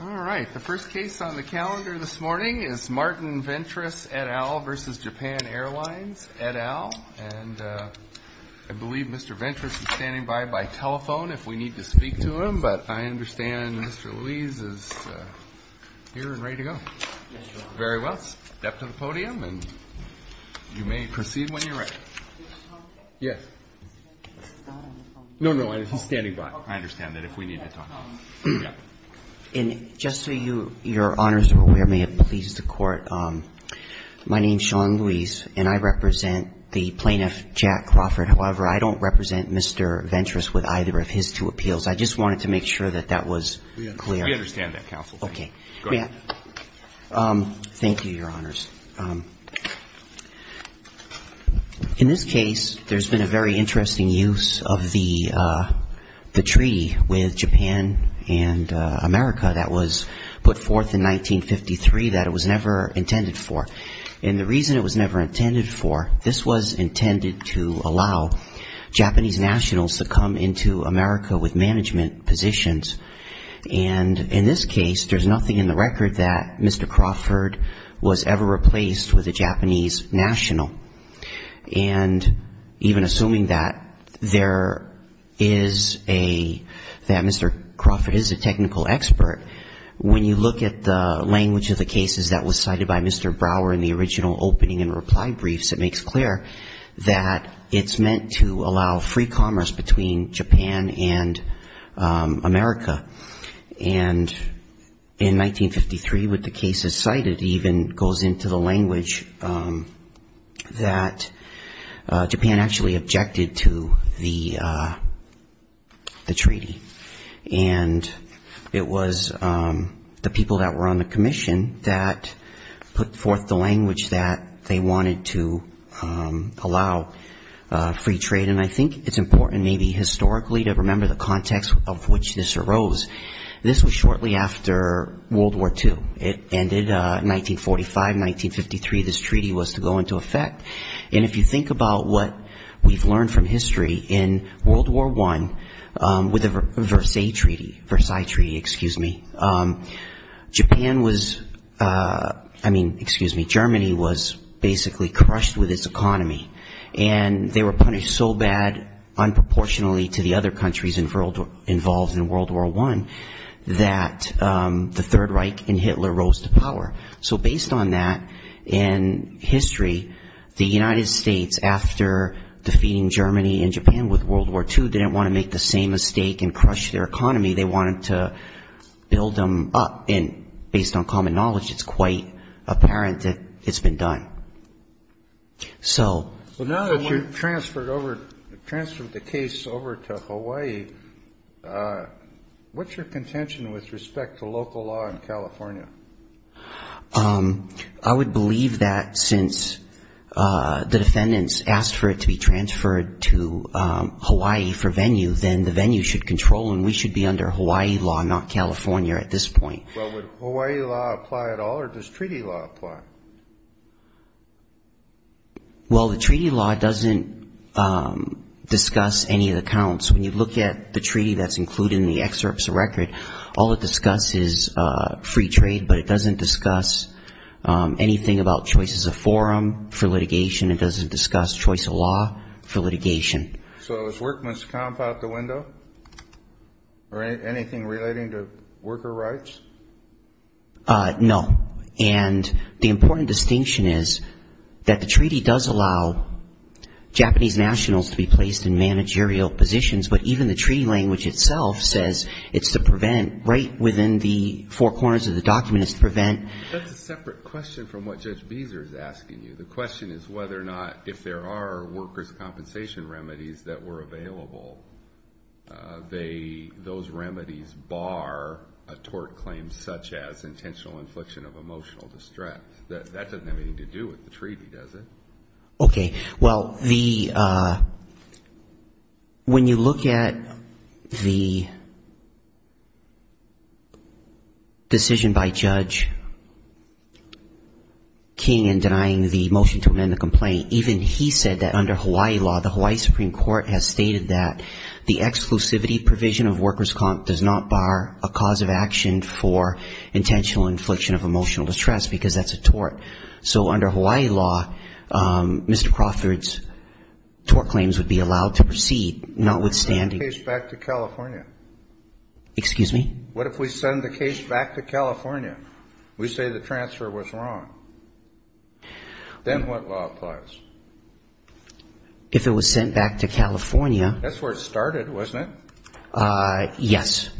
All right. The first case on the calendar this morning is Martin Ventress et al. v. Japan Airlines et al. And I believe Mr. Ventress is standing by by telephone if we need to speak to him. But I understand Mr. Louise is here and ready to go. Very well. Step to the podium and you may proceed when you're ready. Yes. No, no. He's standing by. I understand that if we need to talk. And just so your Honors are aware, may it please the Court, my name's Sean Louise and I represent the plaintiff Jack Crawford. However, I don't represent Mr. Ventress with either of his two appeals. I just wanted to make sure that that was clear. We understand that, Counsel. Okay. Thank you, Your Honors. In this case, there's been a very interesting use of the treaty with Japan and America that was put forth in 1953 that it was never intended for. And the reason it was never intended for, this was intended to allow Japanese nationals to come into America with management positions. And in this case, there's nothing in the record that Mr. Crawford was ever replaced with a Japanese national. And even assuming that there is a, that Mr. Crawford is a technical expert, when you look at the language of the cases that was cited by Mr. Brower in the original opening and reply briefs, it makes clear that it's meant to allow free commerce between Japan and America. And in 1953, with the cases cited, even goes into the language that Japan actually objected to the treaty. And it was the people that were on the commission that put forth the language that they wanted to allow free trade. And I think it's important maybe historically to remember the context of which this arose. This was shortly after World War II. It ended 1945, 1953, this treaty was to go into effect. And if you think about what we've learned from history in World War I, with the Versailles Treaty, Japan was, I mean, excuse me, Germany was basically crushed with its economy. And they were punished so bad, unproportionally to the other countries involved in World War I, that the Third Reich and Hitler rose to power. So based on that, in history, the United States, after defeating Germany and Japan with World War II, didn't want to make the same mistake and crush their economy. They wanted to build them up. And based on common knowledge, it's quite apparent that it's been done. So... Kennedy. So now that you've transferred over, transferred the case over to Hawaii, what's your contention with respect to local law in California? I would believe that since the defendants asked for it to be transferred to Hawaii for venue, then the venue should control and we should be under Hawaii law, not California at this point. Well, would Hawaii law apply at all, or does treaty law apply? Well, the treaty law doesn't discuss any of the counts. When you look at the treaty that's included in the excerpts of record, all it discusses is free trade, but it doesn't discuss anything about choices of forum for litigation, it doesn't discuss choice of law for litigation. So is workmen's comp out the window, or anything relating to worker rights? No. And the important distinction is that the treaty does allow Japanese nationals to be placed in managerial positions, but even the treaty language itself says it's to prevent right within the four corners of the document, it's to prevent... That's a separate question from what Judge Beezer is asking you. The question is whether or not if there are workers' compensation remedies that were available, those remedies bar a tort claim such as intentional infliction of emotional distress. That doesn't have anything to do with the treaty, does it? Okay. Well, the... When you look at the decision by Judge King in denying the motion to amend the complaint, even he said that under Hawaii law, the Hawaii Supreme Court has stated that the exclusivity provision of workers' comp does not bar a cause of action for intentional infliction of emotional distress. Because that's a tort. So under Hawaii law, Mr. Crawford's tort claims would be allowed to proceed, notwithstanding... What if we send the case back to California? We say the transfer was wrong. Then what law applies? If it was sent back to California... That's where it started, wasn't it? Yes.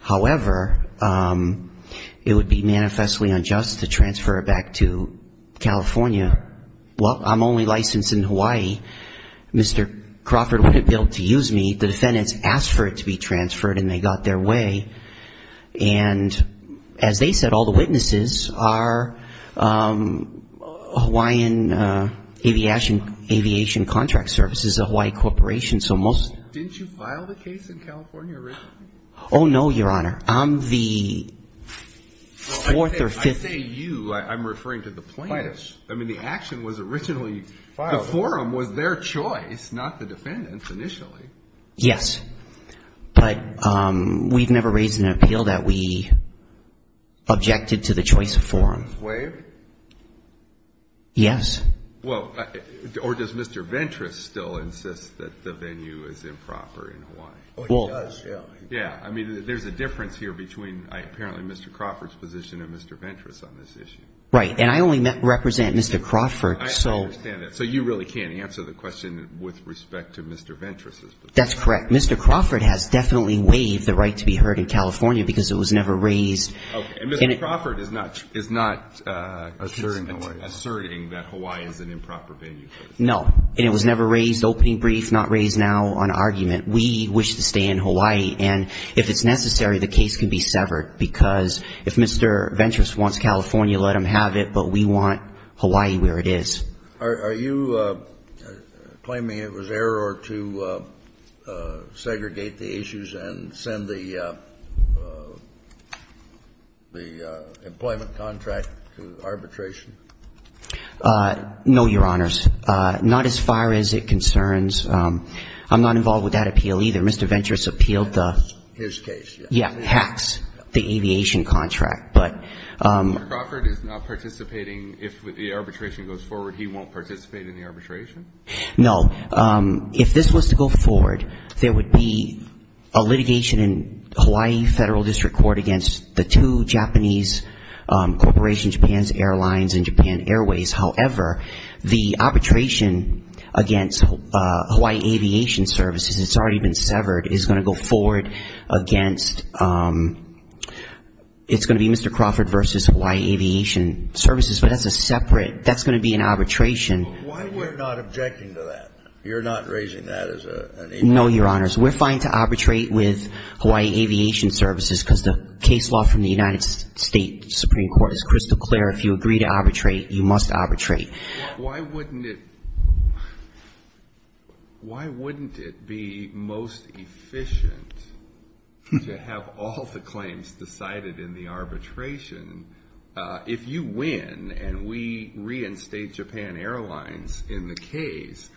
However, it would be manifestly unjust to transfer it back to California. Well, I'm only licensed in Hawaii. Mr. Crawford wouldn't be able to use me. The defendants asked for it to be transferred and they got their way. And as they said, all the witnesses are Hawaiian Aviation Contract Services, a Hawaii corporation, so most... Was this in California originally? Oh, no, Your Honor. I'm the fourth or fifth... I say you. I'm referring to the plaintiffs. I mean, the action was originally... The forum was their choice, not the defendants' initially. Yes. But we've never raised an appeal that we objected to the choice of forum. Did the defendants waive? Yes. Well, or does Mr. Ventress still insist that the venue is improper in Hawaii? Oh, he does, yeah. Yeah. I mean, there's a difference here between apparently Mr. Crawford's position and Mr. Ventress on this issue. Right. And I only represent Mr. Crawford, so... I understand that. So you really can't answer the question with respect to Mr. Ventress's position? That's correct. Mr. Crawford has definitely waived the right to be heard in California because it was never raised... Okay. And Mr. Crawford is not asserting that Hawaii is an improper venue. No. And it was never raised, opening brief, not raised now on argument. We wish to stay in Hawaii. And if it's necessary, the case can be severed, because if Mr. Ventress wants California, let him have it. But we want Hawaii where it is. Are you claiming it was error to segregate the issues and send the employment contract to arbitration? No, Your Honors. Not as far as it concerns. I'm not involved with that appeal either. Mr. Ventress appealed the... His case, yes. Yeah, HACS, the aviation contract. But... Mr. Crawford is not participating. If the arbitration goes forward, he won't participate in the arbitration? No. If this was to go forward, there would be a litigation in Hawaii Federal District Court against the two Japanese corporations, Japan's Airlines and Japan Airways. However, the arbitration against Hawaii Aviation Services, it's already been severed, is going to go forward against, it's going to be Mr. Crawford versus Hawaii Aviation Services, but that's a separate, that's going to be an arbitration. Why are you not objecting to that? You're not raising that as a... No, Your Honors. We're fine to arbitrate with Hawaii Aviation Services, because the case law from the United States Supreme Court is crystal clear. If you agree to arbitrate, you must arbitrate. Why wouldn't it be most efficient to have all the claims decided in the arbitration? If you win, and we reinstate Japan Airlines in the case,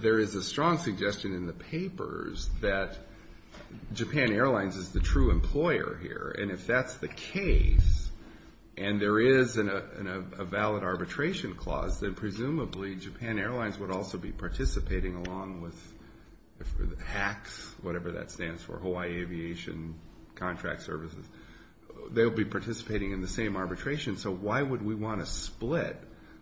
there is a strong suggestion in the papers that Japan Airlines is the true employer here. And if that's the case, and there is a valid arbitration clause, then presumably Japan Airlines would also be participating along with HACS, whatever that stands for, Hawaii Aviation Contract Services. They'll be participating along with HACS, and they'll be participating in the same arbitration, so why would we want to split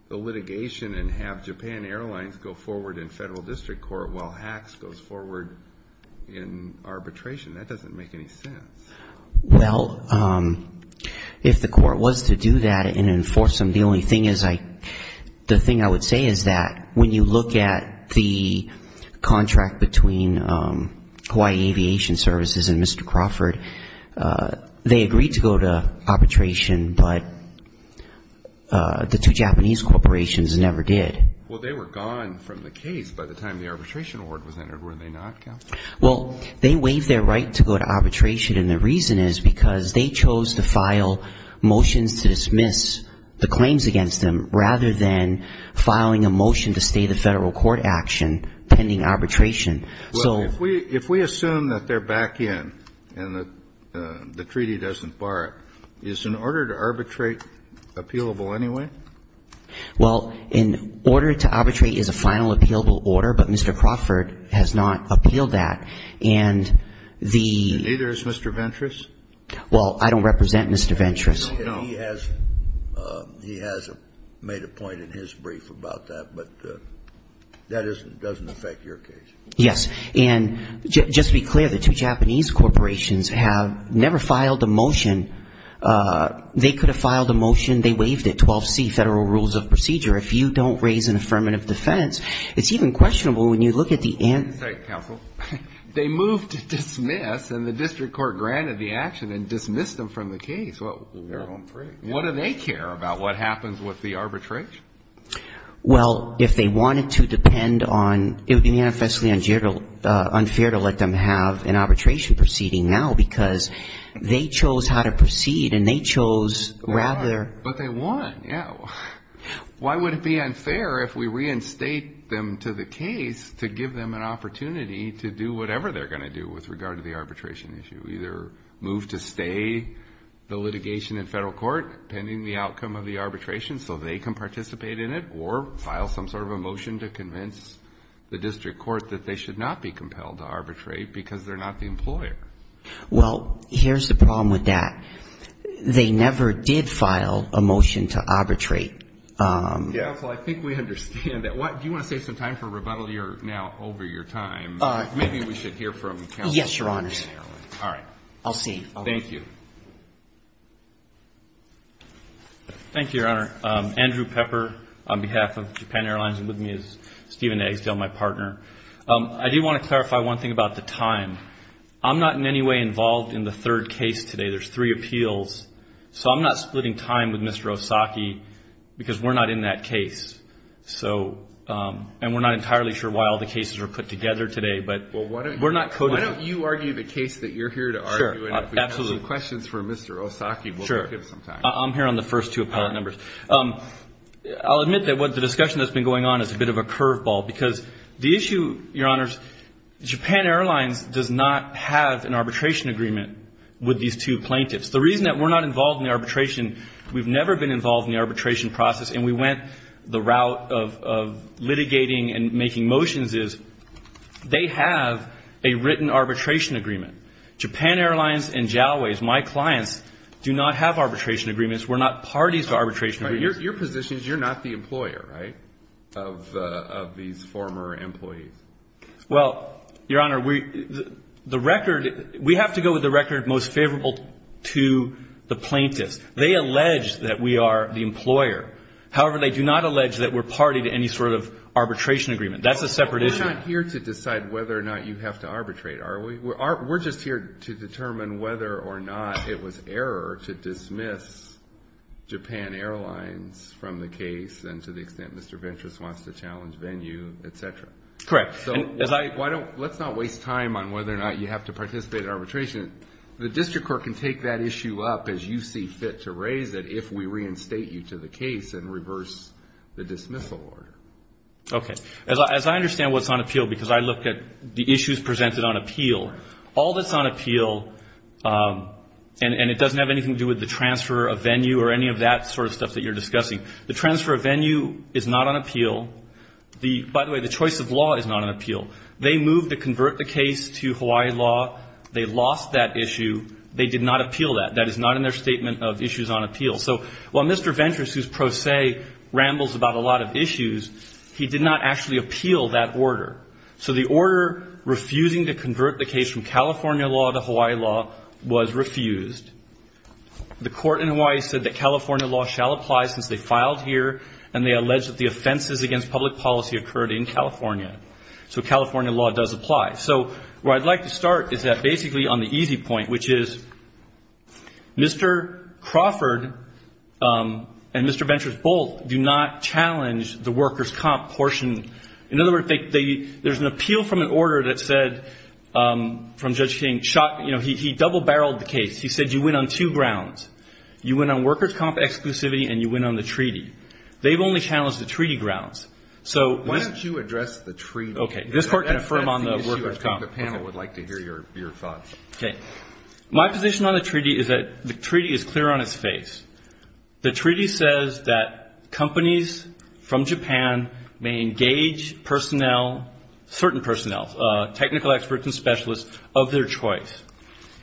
the litigation and have Japan Airlines go forward in federal district court while HACS goes forward in arbitration? That doesn't make any sense. Well, if the court was to do that and enforce them, the only thing is I, the thing I would say is that when you look at the contract between Hawaii Aviation Services and Mr. Crawford, they agreed to go to arbitration, and they're going to go to arbitration, but the two Japanese corporations never did. Well, they were gone from the case by the time the arbitration award was entered, were they not, Counsel? Well, they waived their right to go to arbitration, and the reason is because they chose to file motions to dismiss the claims against them, rather than filing a motion to stay the federal court action pending arbitration. Well, if we assume that they're back in and the treaty doesn't bar it, is in order for them to go to arbitration, the order to arbitrate appealable anyway? Well, in order to arbitrate is a final appealable order, but Mr. Crawford has not appealed that. And the ---- And neither has Mr. Ventress. Well, I don't represent Mr. Ventress. And he has made a point in his brief about that, but that doesn't affect your case. Yes. And just to be clear, the two Japanese corporations have never filed a motion. They could have filed a motion, they waived it, 12C, Federal Rules of Procedure. If you don't raise an affirmative defense, it's even questionable when you look at the answer. Sorry, Counsel. They moved to dismiss, and the district court granted the action and dismissed them from the case. Well, what do they care about what happens with the arbitration? Well, if they wanted to depend on ---- it would be manifestly unfair to let them have an arbitration proceeding now because they chose how to proceed and they chose rather ---- But they won. Yeah. Why would it be unfair if we reinstate them to the case to give them an opportunity to do whatever they're going to do with regard to the arbitration issue, either move to stay the litigation in federal court, pending the outcome of the arbitration, so they can participate in it, or file some sort of a motion to convince the district court that they should not be compelled to arbitrate because they're not the employer? Well, here's the problem with that. They never did file a motion to arbitrate. Counsel, I think we understand that. Do you want to save some time for rebuttal? You're now over your time. Maybe we should hear from Counsel. Yes, Your Honors. All right. I'll see. Thank you. Thank you, Your Honor. Andrew Pepper on behalf of Japan Airlines and with me is Stephen Agsdell, my partner. I do want to clarify one thing about the time. I'm not in any way involved in the third case today. There's three appeals. So I'm not splitting time with Mr. Osaki because we're not in that case. And we're not entirely sure why all the cases are put together today, but we're not coded. Why don't you argue the case that you're here to argue? Sure. Absolutely. Questions for Mr. Osaki. Sure. I'm here on the first two appellate numbers. I'll admit that the discussion that's been going on is a bit of a curveball because the issue, Your Honors, Japan Airlines does not have an arbitration agreement with these two plaintiffs. The reason that we're not involved in the arbitration, we've never been involved in the arbitration process, and we went the route of litigating and making motions is they have a written arbitration agreement. Japan Airlines and Jalways, my clients, do not have arbitration agreements. We're not parties to arbitration agreements. Your position is you're not the employer, right, of these former employees. Well, Your Honor, the record, we have to go with the record most favorable to the plaintiffs. They allege that we are the employer. However, they do not allege that we're party to any sort of arbitration agreement. That's a separate issue. Well, we're not here to decide whether or not you have to arbitrate, are we? We're just here to determine whether or not it was error to dismiss Japan Airlines from the case and to the extent Mr. Ventress wants to challenge venue, et cetera. Correct. So let's not waste time on whether or not you have to participate in arbitration. The district court can take that issue up as you see fit to raise it if we reinstate you to the case and reverse the dismissal order. Okay. As I understand what's on appeal, because I look at the issues presented on appeal, all that's on appeal, and it doesn't have anything to do with the transfer of venue or any of that sort of stuff that you're discussing, the transfer of venue is not on appeal. By the way, the choice of law is not on appeal. They moved to convert the case to Hawaii law. They lost that issue. They did not appeal that. That is not in their statement of issues on appeal. So while Mr. Ventress, whose pro se rambles about a lot of issues, he did not actually appeal that order. So the order refusing to convert the case from California law to Hawaii law was refused. The court in Hawaii said that California law shall apply since they filed here, and they alleged that the offenses against public policy occurred in California. So California law does apply. So where I'd like to start is that basically on the easy point, which is Mr. Crawford and Mr. Ventress both do not challenge the workers' comp portion. In other words, there's an appeal from an order that said from Judge King, you know, he double-barreled the case. He said you went on two grounds. You went on workers' comp exclusivity and you went on the treaty. They've only challenged the treaty grounds. The panel would like to hear your thoughts. Okay. My position on the treaty is that the treaty is clear on its face. The treaty says that companies from Japan may engage personnel, certain personnel, technical experts and specialists of their choice.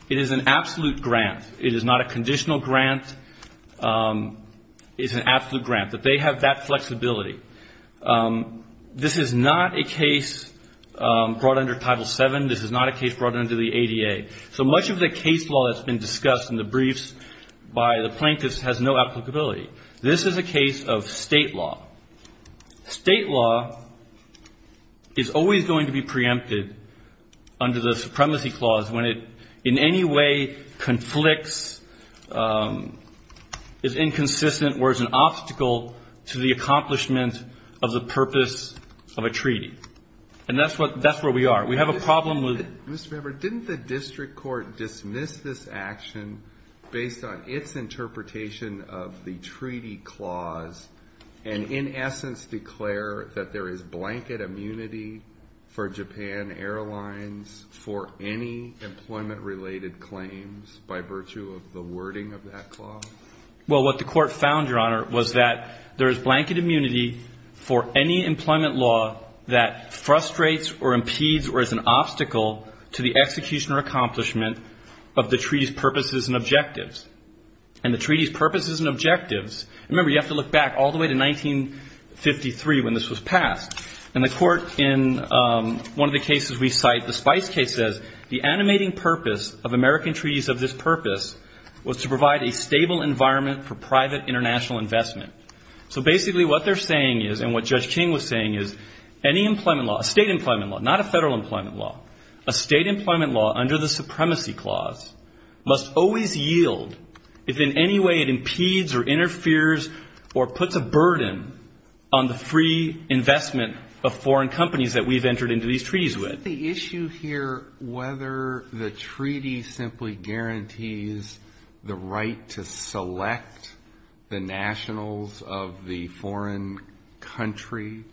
It is an absolute grant. It is not a conditional grant. It is an absolute grant that they have that flexibility. This is not a case brought under Title VII. This is not a case brought under the ADA. So much of the case law that's been discussed in the briefs by the plaintiffs has no applicability. This is a case of state law. State law is always going to be preempted under the Supremacy Clause when it in any way conflicts, is inconsistent or is an obstacle to the accomplishment of the purpose of a treaty. And that's where we are. We have a problem with it. Mr. Weber, didn't the district court dismiss this action based on its interpretation of the treaty clause and in essence declare that there is blanket immunity for Japan Airlines for any employment-related claims by virtue of the wording of that clause? Well, what the court found, Your Honor, was that there is blanket immunity for any employment law that frustrates or impedes or is an obstacle to the execution or accomplishment of the treaty's purposes and objectives. And the treaty's purposes and objectives, remember, you have to look back all the way to 1953 when this was passed. And the court in one of the cases we cite, the Spice case says, the animating purpose of American treaties of this purpose was to provide a stable environment for private international investment. So basically what they're saying is and what Judge King was saying is any employment law, a state employment law, not a federal employment law, a state employment law under the Supremacy Clause must always yield if in any way it impedes or interferes or puts a burden on the free investment of foreign companies that we've entered into these treaties with. Is the issue here whether the treaty simply guarantees the right to select the nationals of the foreign country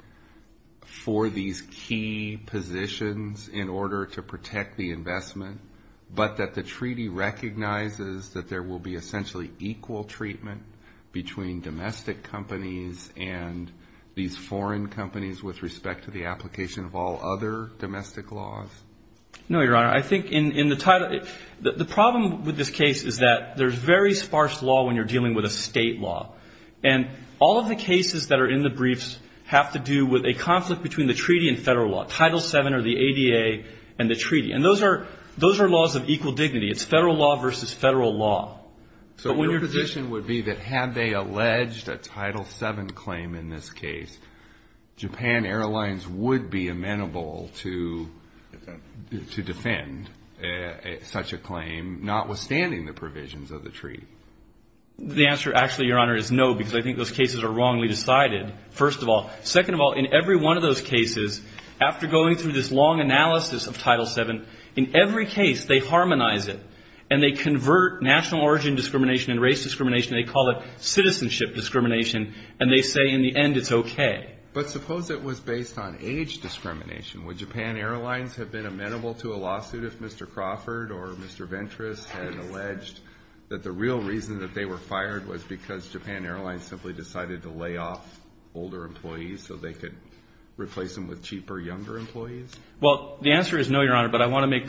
for these key positions in order to protect the investment, but that the treaty recognizes that there will be essentially equal treatment between domestic companies and these foreign companies with respect to the application of all other domestic laws? No, Your Honor. I think in the title the problem with this case is that there's very sparse law when you're dealing with a state law. And all of the cases that are in the briefs have to do with a conflict between the treaty and federal law. Title VII or the ADA and the treaty. And those are laws of equal dignity. It's federal law versus federal law. So your position would be that had they alleged a Title VII claim in this case, Japan Airlines would be amenable to defend such a claim notwithstanding the provisions of the treaty? The answer actually, Your Honor, is no because I think those cases are wrongly decided, first of all. Second of all, in every one of those cases, after going through this long analysis of Title VII, in every case they harmonize it and they convert national origin discrimination and race discrimination, they call it citizenship discrimination, and they say in the end it's okay. But suppose it was based on age discrimination. Would Japan Airlines have been amenable to a lawsuit if Mr. Crawford or Mr. Ventress had alleged that the real reason that they were fired was because Japan Airlines simply decided to lay off older employees so they could replace them with cheaper younger employees? Well, the answer is no, Your Honor, but I want to make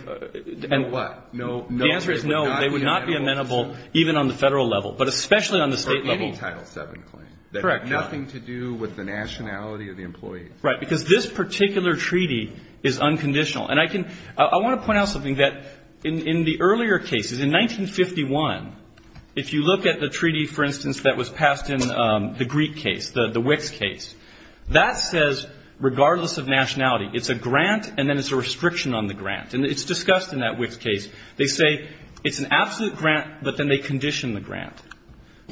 the answer is no. They would not be amenable even on the federal level, but especially on the state level. For any Title VII claim. Correct. Nothing to do with the nationality of the employee. Right, because this particular treaty is unconditional. And I want to point out something, that in the earlier cases, in 1951, if you look at the treaty, for instance, that was passed in the Greek case, the Wicks case, that says regardless of nationality, it's a grant and then it's a restriction on the grant, and it's discussed in that Wicks case. They say it's an absolute grant, but then they condition the grant.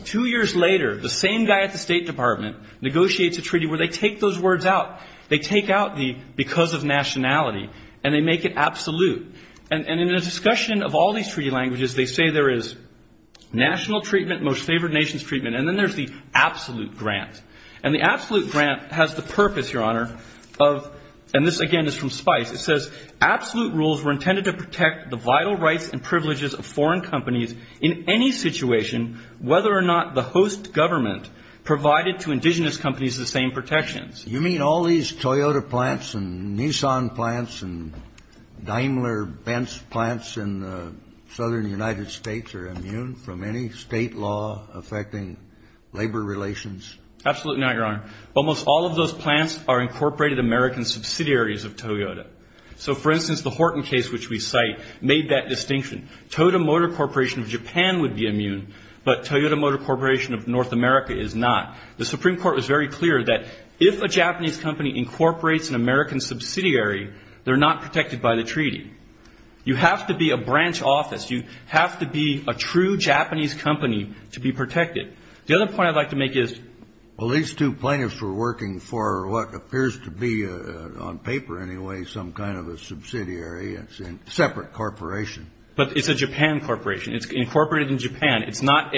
Two years later, the same guy at the State Department negotiates a treaty where they take those words out. They take out the because of nationality and they make it absolute. And in the discussion of all these treaty languages, they say there is national treatment, most favored nations treatment, and then there's the absolute grant. And the absolute grant has the purpose, Your Honor, of, and this again is from Spice, it says absolute rules were intended to protect the vital rights and privileges of foreign companies in any situation, whether or not the host government provided to indigenous companies the same protections. You mean all these Toyota plants and Nissan plants and Daimler-Benz plants in the southern United States are immune from any state law affecting labor relations? Absolutely not, Your Honor. Almost all of those plants are incorporated American subsidiaries of Toyota. So, for instance, the Horton case, which we cite, made that distinction. Toyota Motor Corporation of Japan would be immune, but Toyota Motor Corporation of North America is not. The Supreme Court was very clear that if a Japanese company incorporates an American subsidiary, they're not protected by the treaty. You have to be a branch office. You have to be a true Japanese company to be protected. The other point I'd like to make is. Well, these two plaintiffs were working for what appears to be, on paper anyway, some kind of a subsidiary. It's a separate corporation. But it's a Japan corporation. It's incorporated in Japan. It's not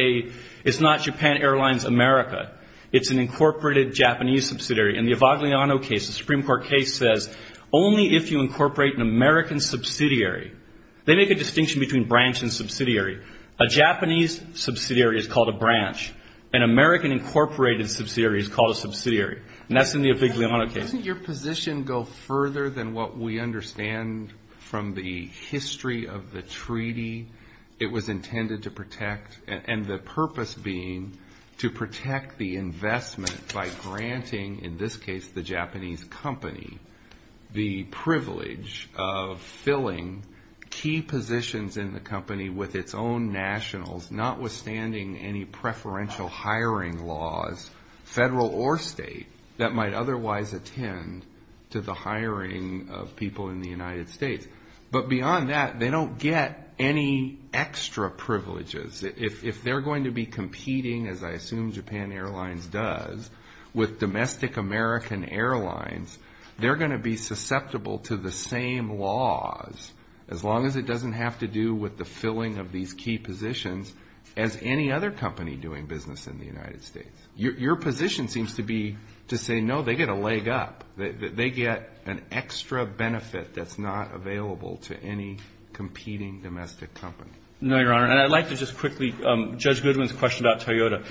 Japan Airlines America. It's an incorporated Japanese subsidiary. In the Evagliano case, the Supreme Court case says only if you incorporate an American subsidiary. They make a distinction between branch and subsidiary. A Japanese subsidiary is called a branch. An American incorporated subsidiary is called a subsidiary. And that's in the Evagliano case. Doesn't your position go further than what we understand from the history of the treaty? It was intended to protect. And the purpose being to protect the investment by granting, in this case, the Japanese company, the privilege of filling key positions in the company with its own nationals, notwithstanding any preferential hiring laws, federal or state, that might otherwise attend to the hiring of people in the United States. But beyond that, they don't get any extra privileges. If they're going to be competing, as I assume Japan Airlines does, with domestic American Airlines, they're going to be susceptible to the same laws, as long as it doesn't have to do with the filling of these key positions as any other company doing business in the United States. Your position seems to be to say, no, they get a leg up. They get an extra benefit that's not available to any competing domestic company. No, Your Honor. And I'd like to just quickly, Judge Goodwin's question about Toyota.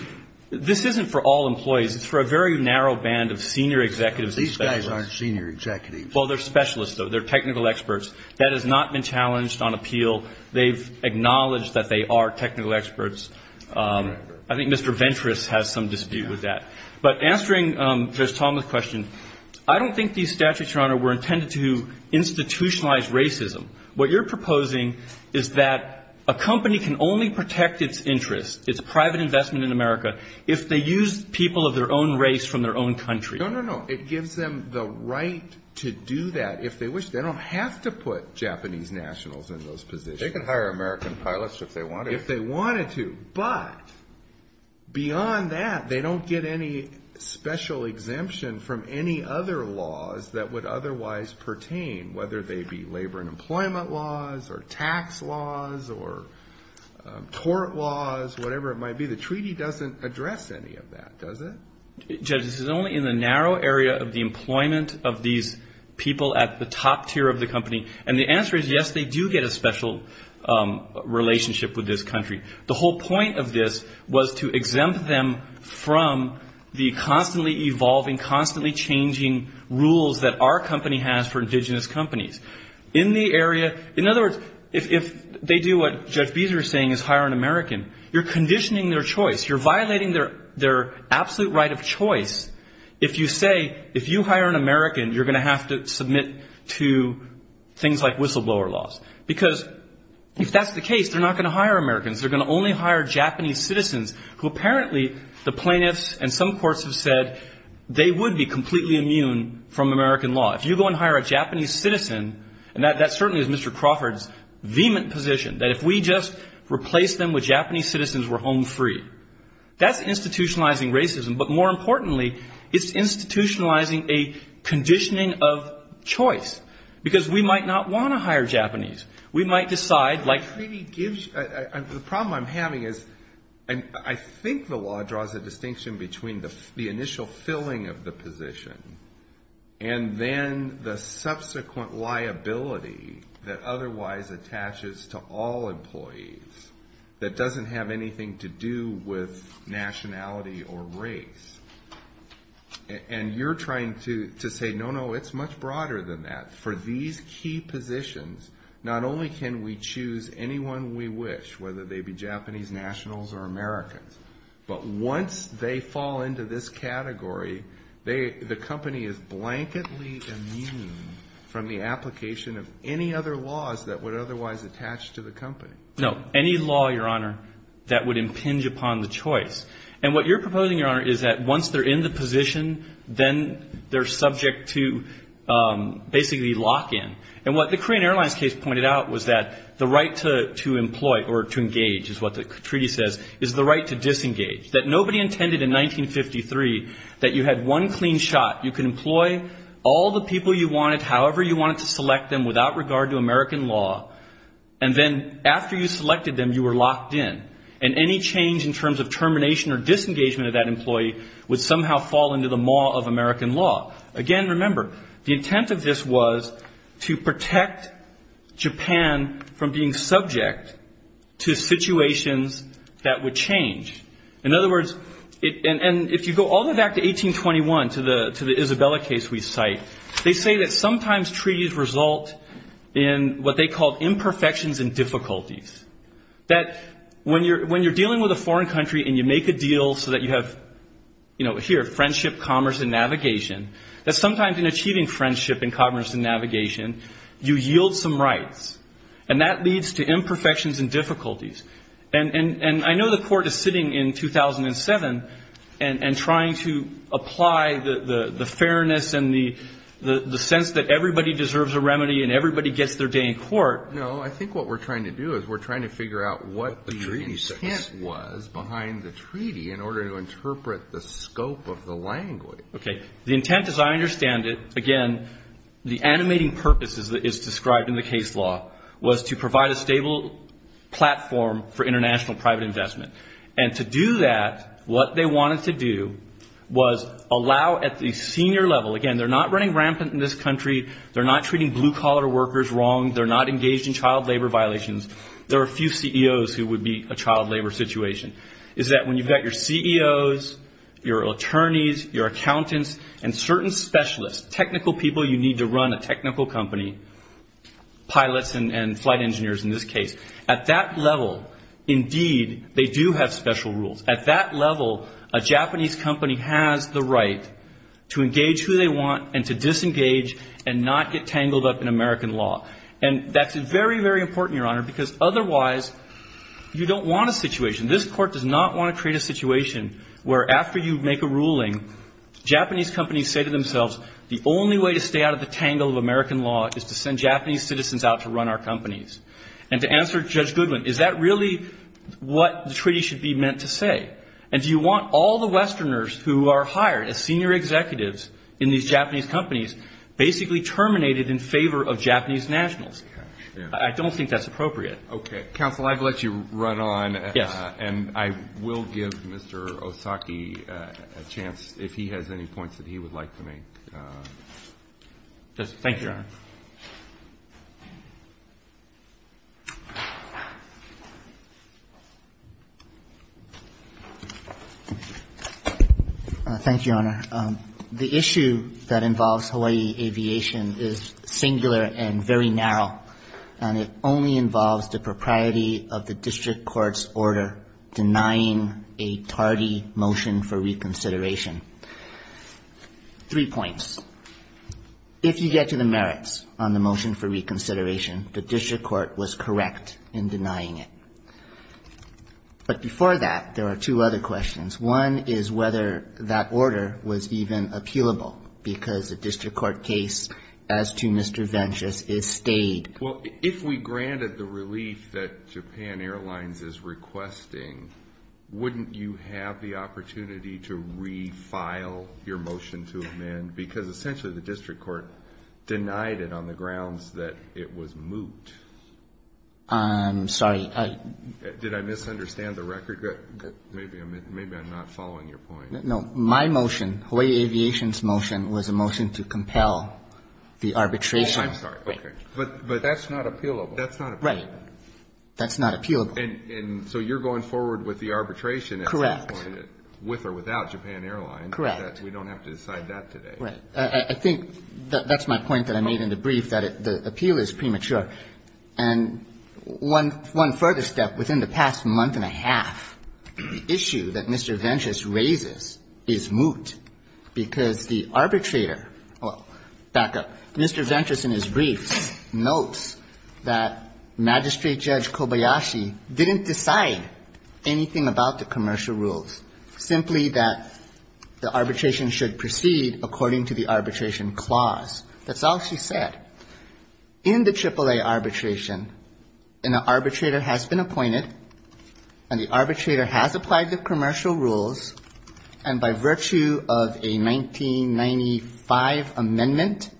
This isn't for all employees. It's for a very narrow band of senior executives and specialists. These guys aren't senior executives. Well, they're specialists, though. They're technical experts. That has not been challenged on appeal. They've acknowledged that they are technical experts. I think Mr. Ventress has some dispute with that. But answering Judge Tomlin's question, I don't think these statutes, Your Honor, were intended to institutionalize racism. What you're proposing is that a company can only protect its interests, its private investment in America, if they use people of their own race from their own country. No, no, no. It gives them the right to do that. If they wish, they don't have to put Japanese nationals in those positions. They can hire American pilots if they wanted to. If they wanted to. But beyond that, they don't get any special exemption from any other laws that would otherwise pertain, whether they be labor and employment laws or tax laws or court laws, whatever it might be. The treaty doesn't address any of that, does it? Judge, this is only in the narrow area of the employment of these people at the top tier of the company. And the answer is, yes, they do get a special relationship with this country. The whole point of this was to exempt them from the constantly evolving, constantly changing rules that our company has for indigenous companies. In the area, in other words, if they do what Judge Beazer is saying is hire an American, you're conditioning their choice. You're violating their absolute right of choice if you say if you hire an American, you're going to have to submit to things like whistleblower laws. Because if that's the case, they're not going to hire Americans. They're going to only hire Japanese citizens who apparently the plaintiffs and some courts have said they would be completely immune from American law. If you go and hire a Japanese citizen, and that certainly is Mr. Crawford's vehement position, that if we just replace them with Japanese citizens, we're home free. That's institutionalizing racism. But more importantly, it's institutionalizing a conditioning of choice. Because we might not want to hire Japanese. We might decide, like the problem I'm having is, I think the law draws a distinction between the initial filling of the position and then the subsequent liability that otherwise attaches to all employees that doesn't have anything to do with nationality or race. And you're trying to say, no, no, it's much broader than that. For these key positions, not only can we choose anyone we wish, whether they be Japanese nationals or Americans, but once they fall into this category, the company is blanketly immune from the application of any other laws that would otherwise attach to the company. No, any law, Your Honor, that would impinge upon the choice. And what you're proposing, Your Honor, is that once they're in the position, then they're subject to basically lock-in. And what the Korean Airlines case pointed out was that the right to employ or to engage, is what the treaty says, is the right to disengage. That nobody intended in 1953 that you had one clean shot. You could employ all the people you wanted, however you wanted to select them, without regard to American law. And then after you selected them, you were locked in. And any change in terms of termination or disengagement of that employee would somehow fall into the maw of American law. Again, remember, the intent of this was to protect Japan from being subject to situations that would change. In other words, and if you go all the way back to 1821, to the Isabella case we cite, they say that sometimes treaties result in what they call imperfections and difficulties. That when you're dealing with a foreign country and you make a deal so that you have, you know, here, friendship, commerce, and navigation, that sometimes in achieving friendship and commerce and navigation, you yield some rights. And that leads to imperfections and difficulties. And I know the Court is sitting in 2007 and trying to apply the fairness and the sense that everybody deserves a remedy and everybody gets their day in court. No, I think what we're trying to do is we're trying to figure out what the intent was behind the treaty in order to interpret the scope of the language. Okay. The intent, as I understand it, again, the animating purpose is described in the case law, was to provide a stable platform for international private investment. And to do that, what they wanted to do was allow at the senior level, again, they're not running rampant in this country, they're not treating blue-collar workers wrong, they're not engaged in child labor violations. There are a few CEOs who would be a child labor situation. Is that when you've got your CEOs, your attorneys, your accountants, and certain specialists, technical people you need to run a technical company, pilots and flight engineers in this case, at that level, indeed, they do have special rules. At that level, a Japanese company has the right to engage who they want and to disengage and not get tangled up in American law. And that's very, very important, Your Honor, because otherwise you don't want a situation, this Court does not want to create a situation where after you make a ruling, Japanese companies say to themselves, the only way to stay out of the tangle of American law is to send Japanese citizens out to run our companies. And to answer Judge Goodwin, is that really what the treaty should be meant to say? And do you want all the Westerners who are hired as senior executives in these Japanese companies basically terminated in favor of Japanese nationals? I don't think that's appropriate. Okay. Counsel, I'd let you run on. Yes. And I will give Mr. Osaki a chance, if he has any points that he would like to make. Thank you, Your Honor. Thank you, Your Honor. The issue that involves Hawaii aviation is singular and very narrow, and it only involves the propriety of the district court's order denying a tardy motion for reconsideration. Three points. On the motion for reconsideration, the district court was correct in denying it. But before that, there are two other questions. One is whether that order was even appealable, because the district court case as to Mr. Ventus is stayed. Well, if we granted the relief that Japan Airlines is requesting, wouldn't you have the opportunity to refile your motion to amend? Because essentially the district court denied it on the grounds that it was moot. I'm sorry. Did I misunderstand the record? Maybe I'm not following your point. No. My motion, Hawaii Aviation's motion, was a motion to compel the arbitration. Oh, I'm sorry. Okay. But that's not appealable. That's not appealable. Right. That's not appealable. And so you're going forward with the arbitration at this point. Correct. With or without Japan Airlines. Correct. We don't have to decide that today. Right. I think that's my point that I made in the brief, that the appeal is premature. And one further step, within the past month and a half, the issue that Mr. Ventus raises is moot, because the arbitrator, well, back up, Mr. Ventus in his brief notes that Magistrate Judge Kobayashi didn't decide anything about the commercial rules, simply that the arbitration should proceed according to the arbitration clause. That's all she said. In the AAA arbitration, an arbitrator has been appointed, and the arbitrator has applied the commercial rules, and by virtue of a 1995 amendment,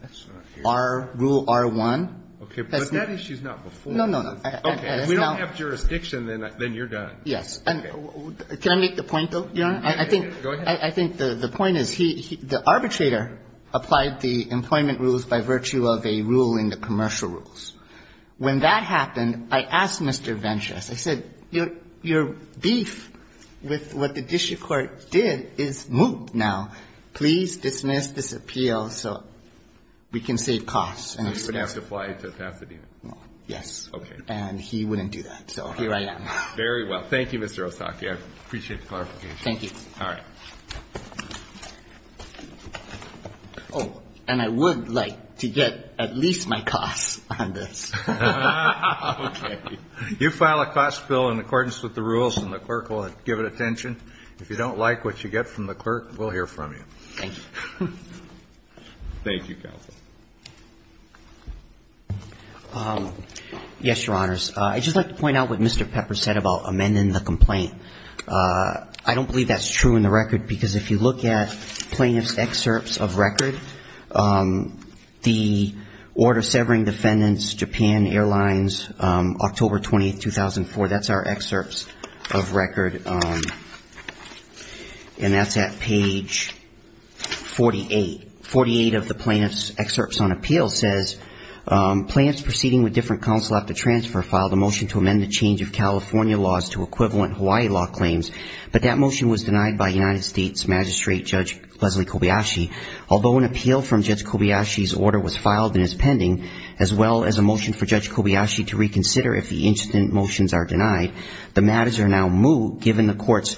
Rule R1. Okay. But that issue is not before us. No, no, no. Okay. If we don't have jurisdiction, then you're done. Yes. And can I make the point, though, Your Honor? Go ahead. I think the point is he, the arbitrator applied the employment rules by virtue of a rule in the commercial rules. When that happened, I asked Mr. Ventus, I said, your beef with what the district court did is moot now. Please dismiss this appeal so we can save costs. And he wouldn't have to fly to Pasadena. Yes. Okay. And he wouldn't do that. So here I am. Very well. Thank you, Mr. Osaki. I appreciate the clarification. Thank you. All right. Oh, and I would like to get at least my costs on this. Okay. You file a cost bill in accordance with the rules, and the clerk will give it attention. If you don't like what you get from the clerk, we'll hear from you. Thank you. Thank you, counsel. Yes, Your Honors. I'd just like to point out what Mr. Pepper said about amending the complaint. I don't believe that's true in the record, because if you look at plaintiff's excerpts of record, the order severing defendants, Japan Airlines, October 20, 2004, that's our excerpts of record. And that's at page 48. Forty-eight of the plaintiff's excerpts on appeal says, Plaintiffs proceeding with different counsel after transfer filed a motion to amend the change of California laws to equivalent Hawaii law claims, but that motion was denied by United States Magistrate Judge Leslie Kobayashi. Although an appeal from Judge Kobayashi's order was filed and is pending, as well as a motion for Judge Kobayashi to reconsider if the incident motions are denied, the matters are now moot, given the court's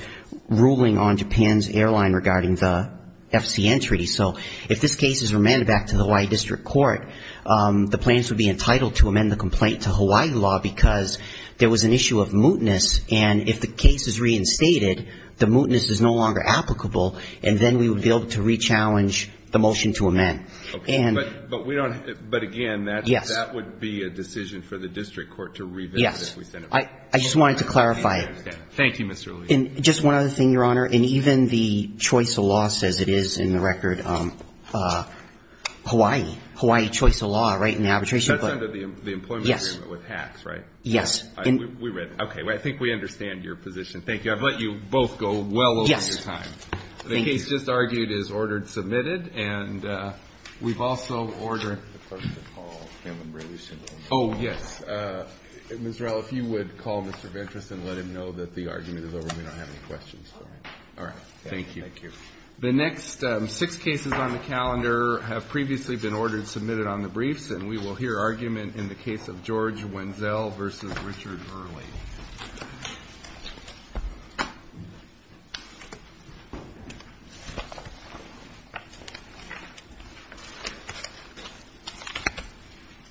ruling on Japan's airline regarding the FCN treaty. So if this case is remanded back to the Hawaii district court, the plaintiffs would be entitled to amend the complaint to Hawaii law because there was an issue of mootness, and if the case is reinstated, the mootness is no longer applicable, and then we would be able to rechallenge the motion to amend. But again, that would be a decision for the district court to revisit. Yes. I just wanted to clarify. Thank you, Mr. Lee. And just one other thing, Your Honor. In even the choice of law says it is in the record Hawaii. Hawaii choice of law, right, in the arbitration. That's under the employment agreement with HACS, right? Yes. We read it. Okay. I think we understand your position. Thank you. I've let you both go well over your time. Yes. Thank you. The case just argued is ordered, submitted, and we've also ordered the clerk to call him and release him. Oh, yes. Ms. Rell, if you would call Mr. Ventress and let him know that the argument is over, we don't have any questions for him. All right. Thank you. Thank you. The next six cases on the calendar have previously been ordered, submitted on the briefs, and we will hear argument in the case of George Wenzel v. Richard Early.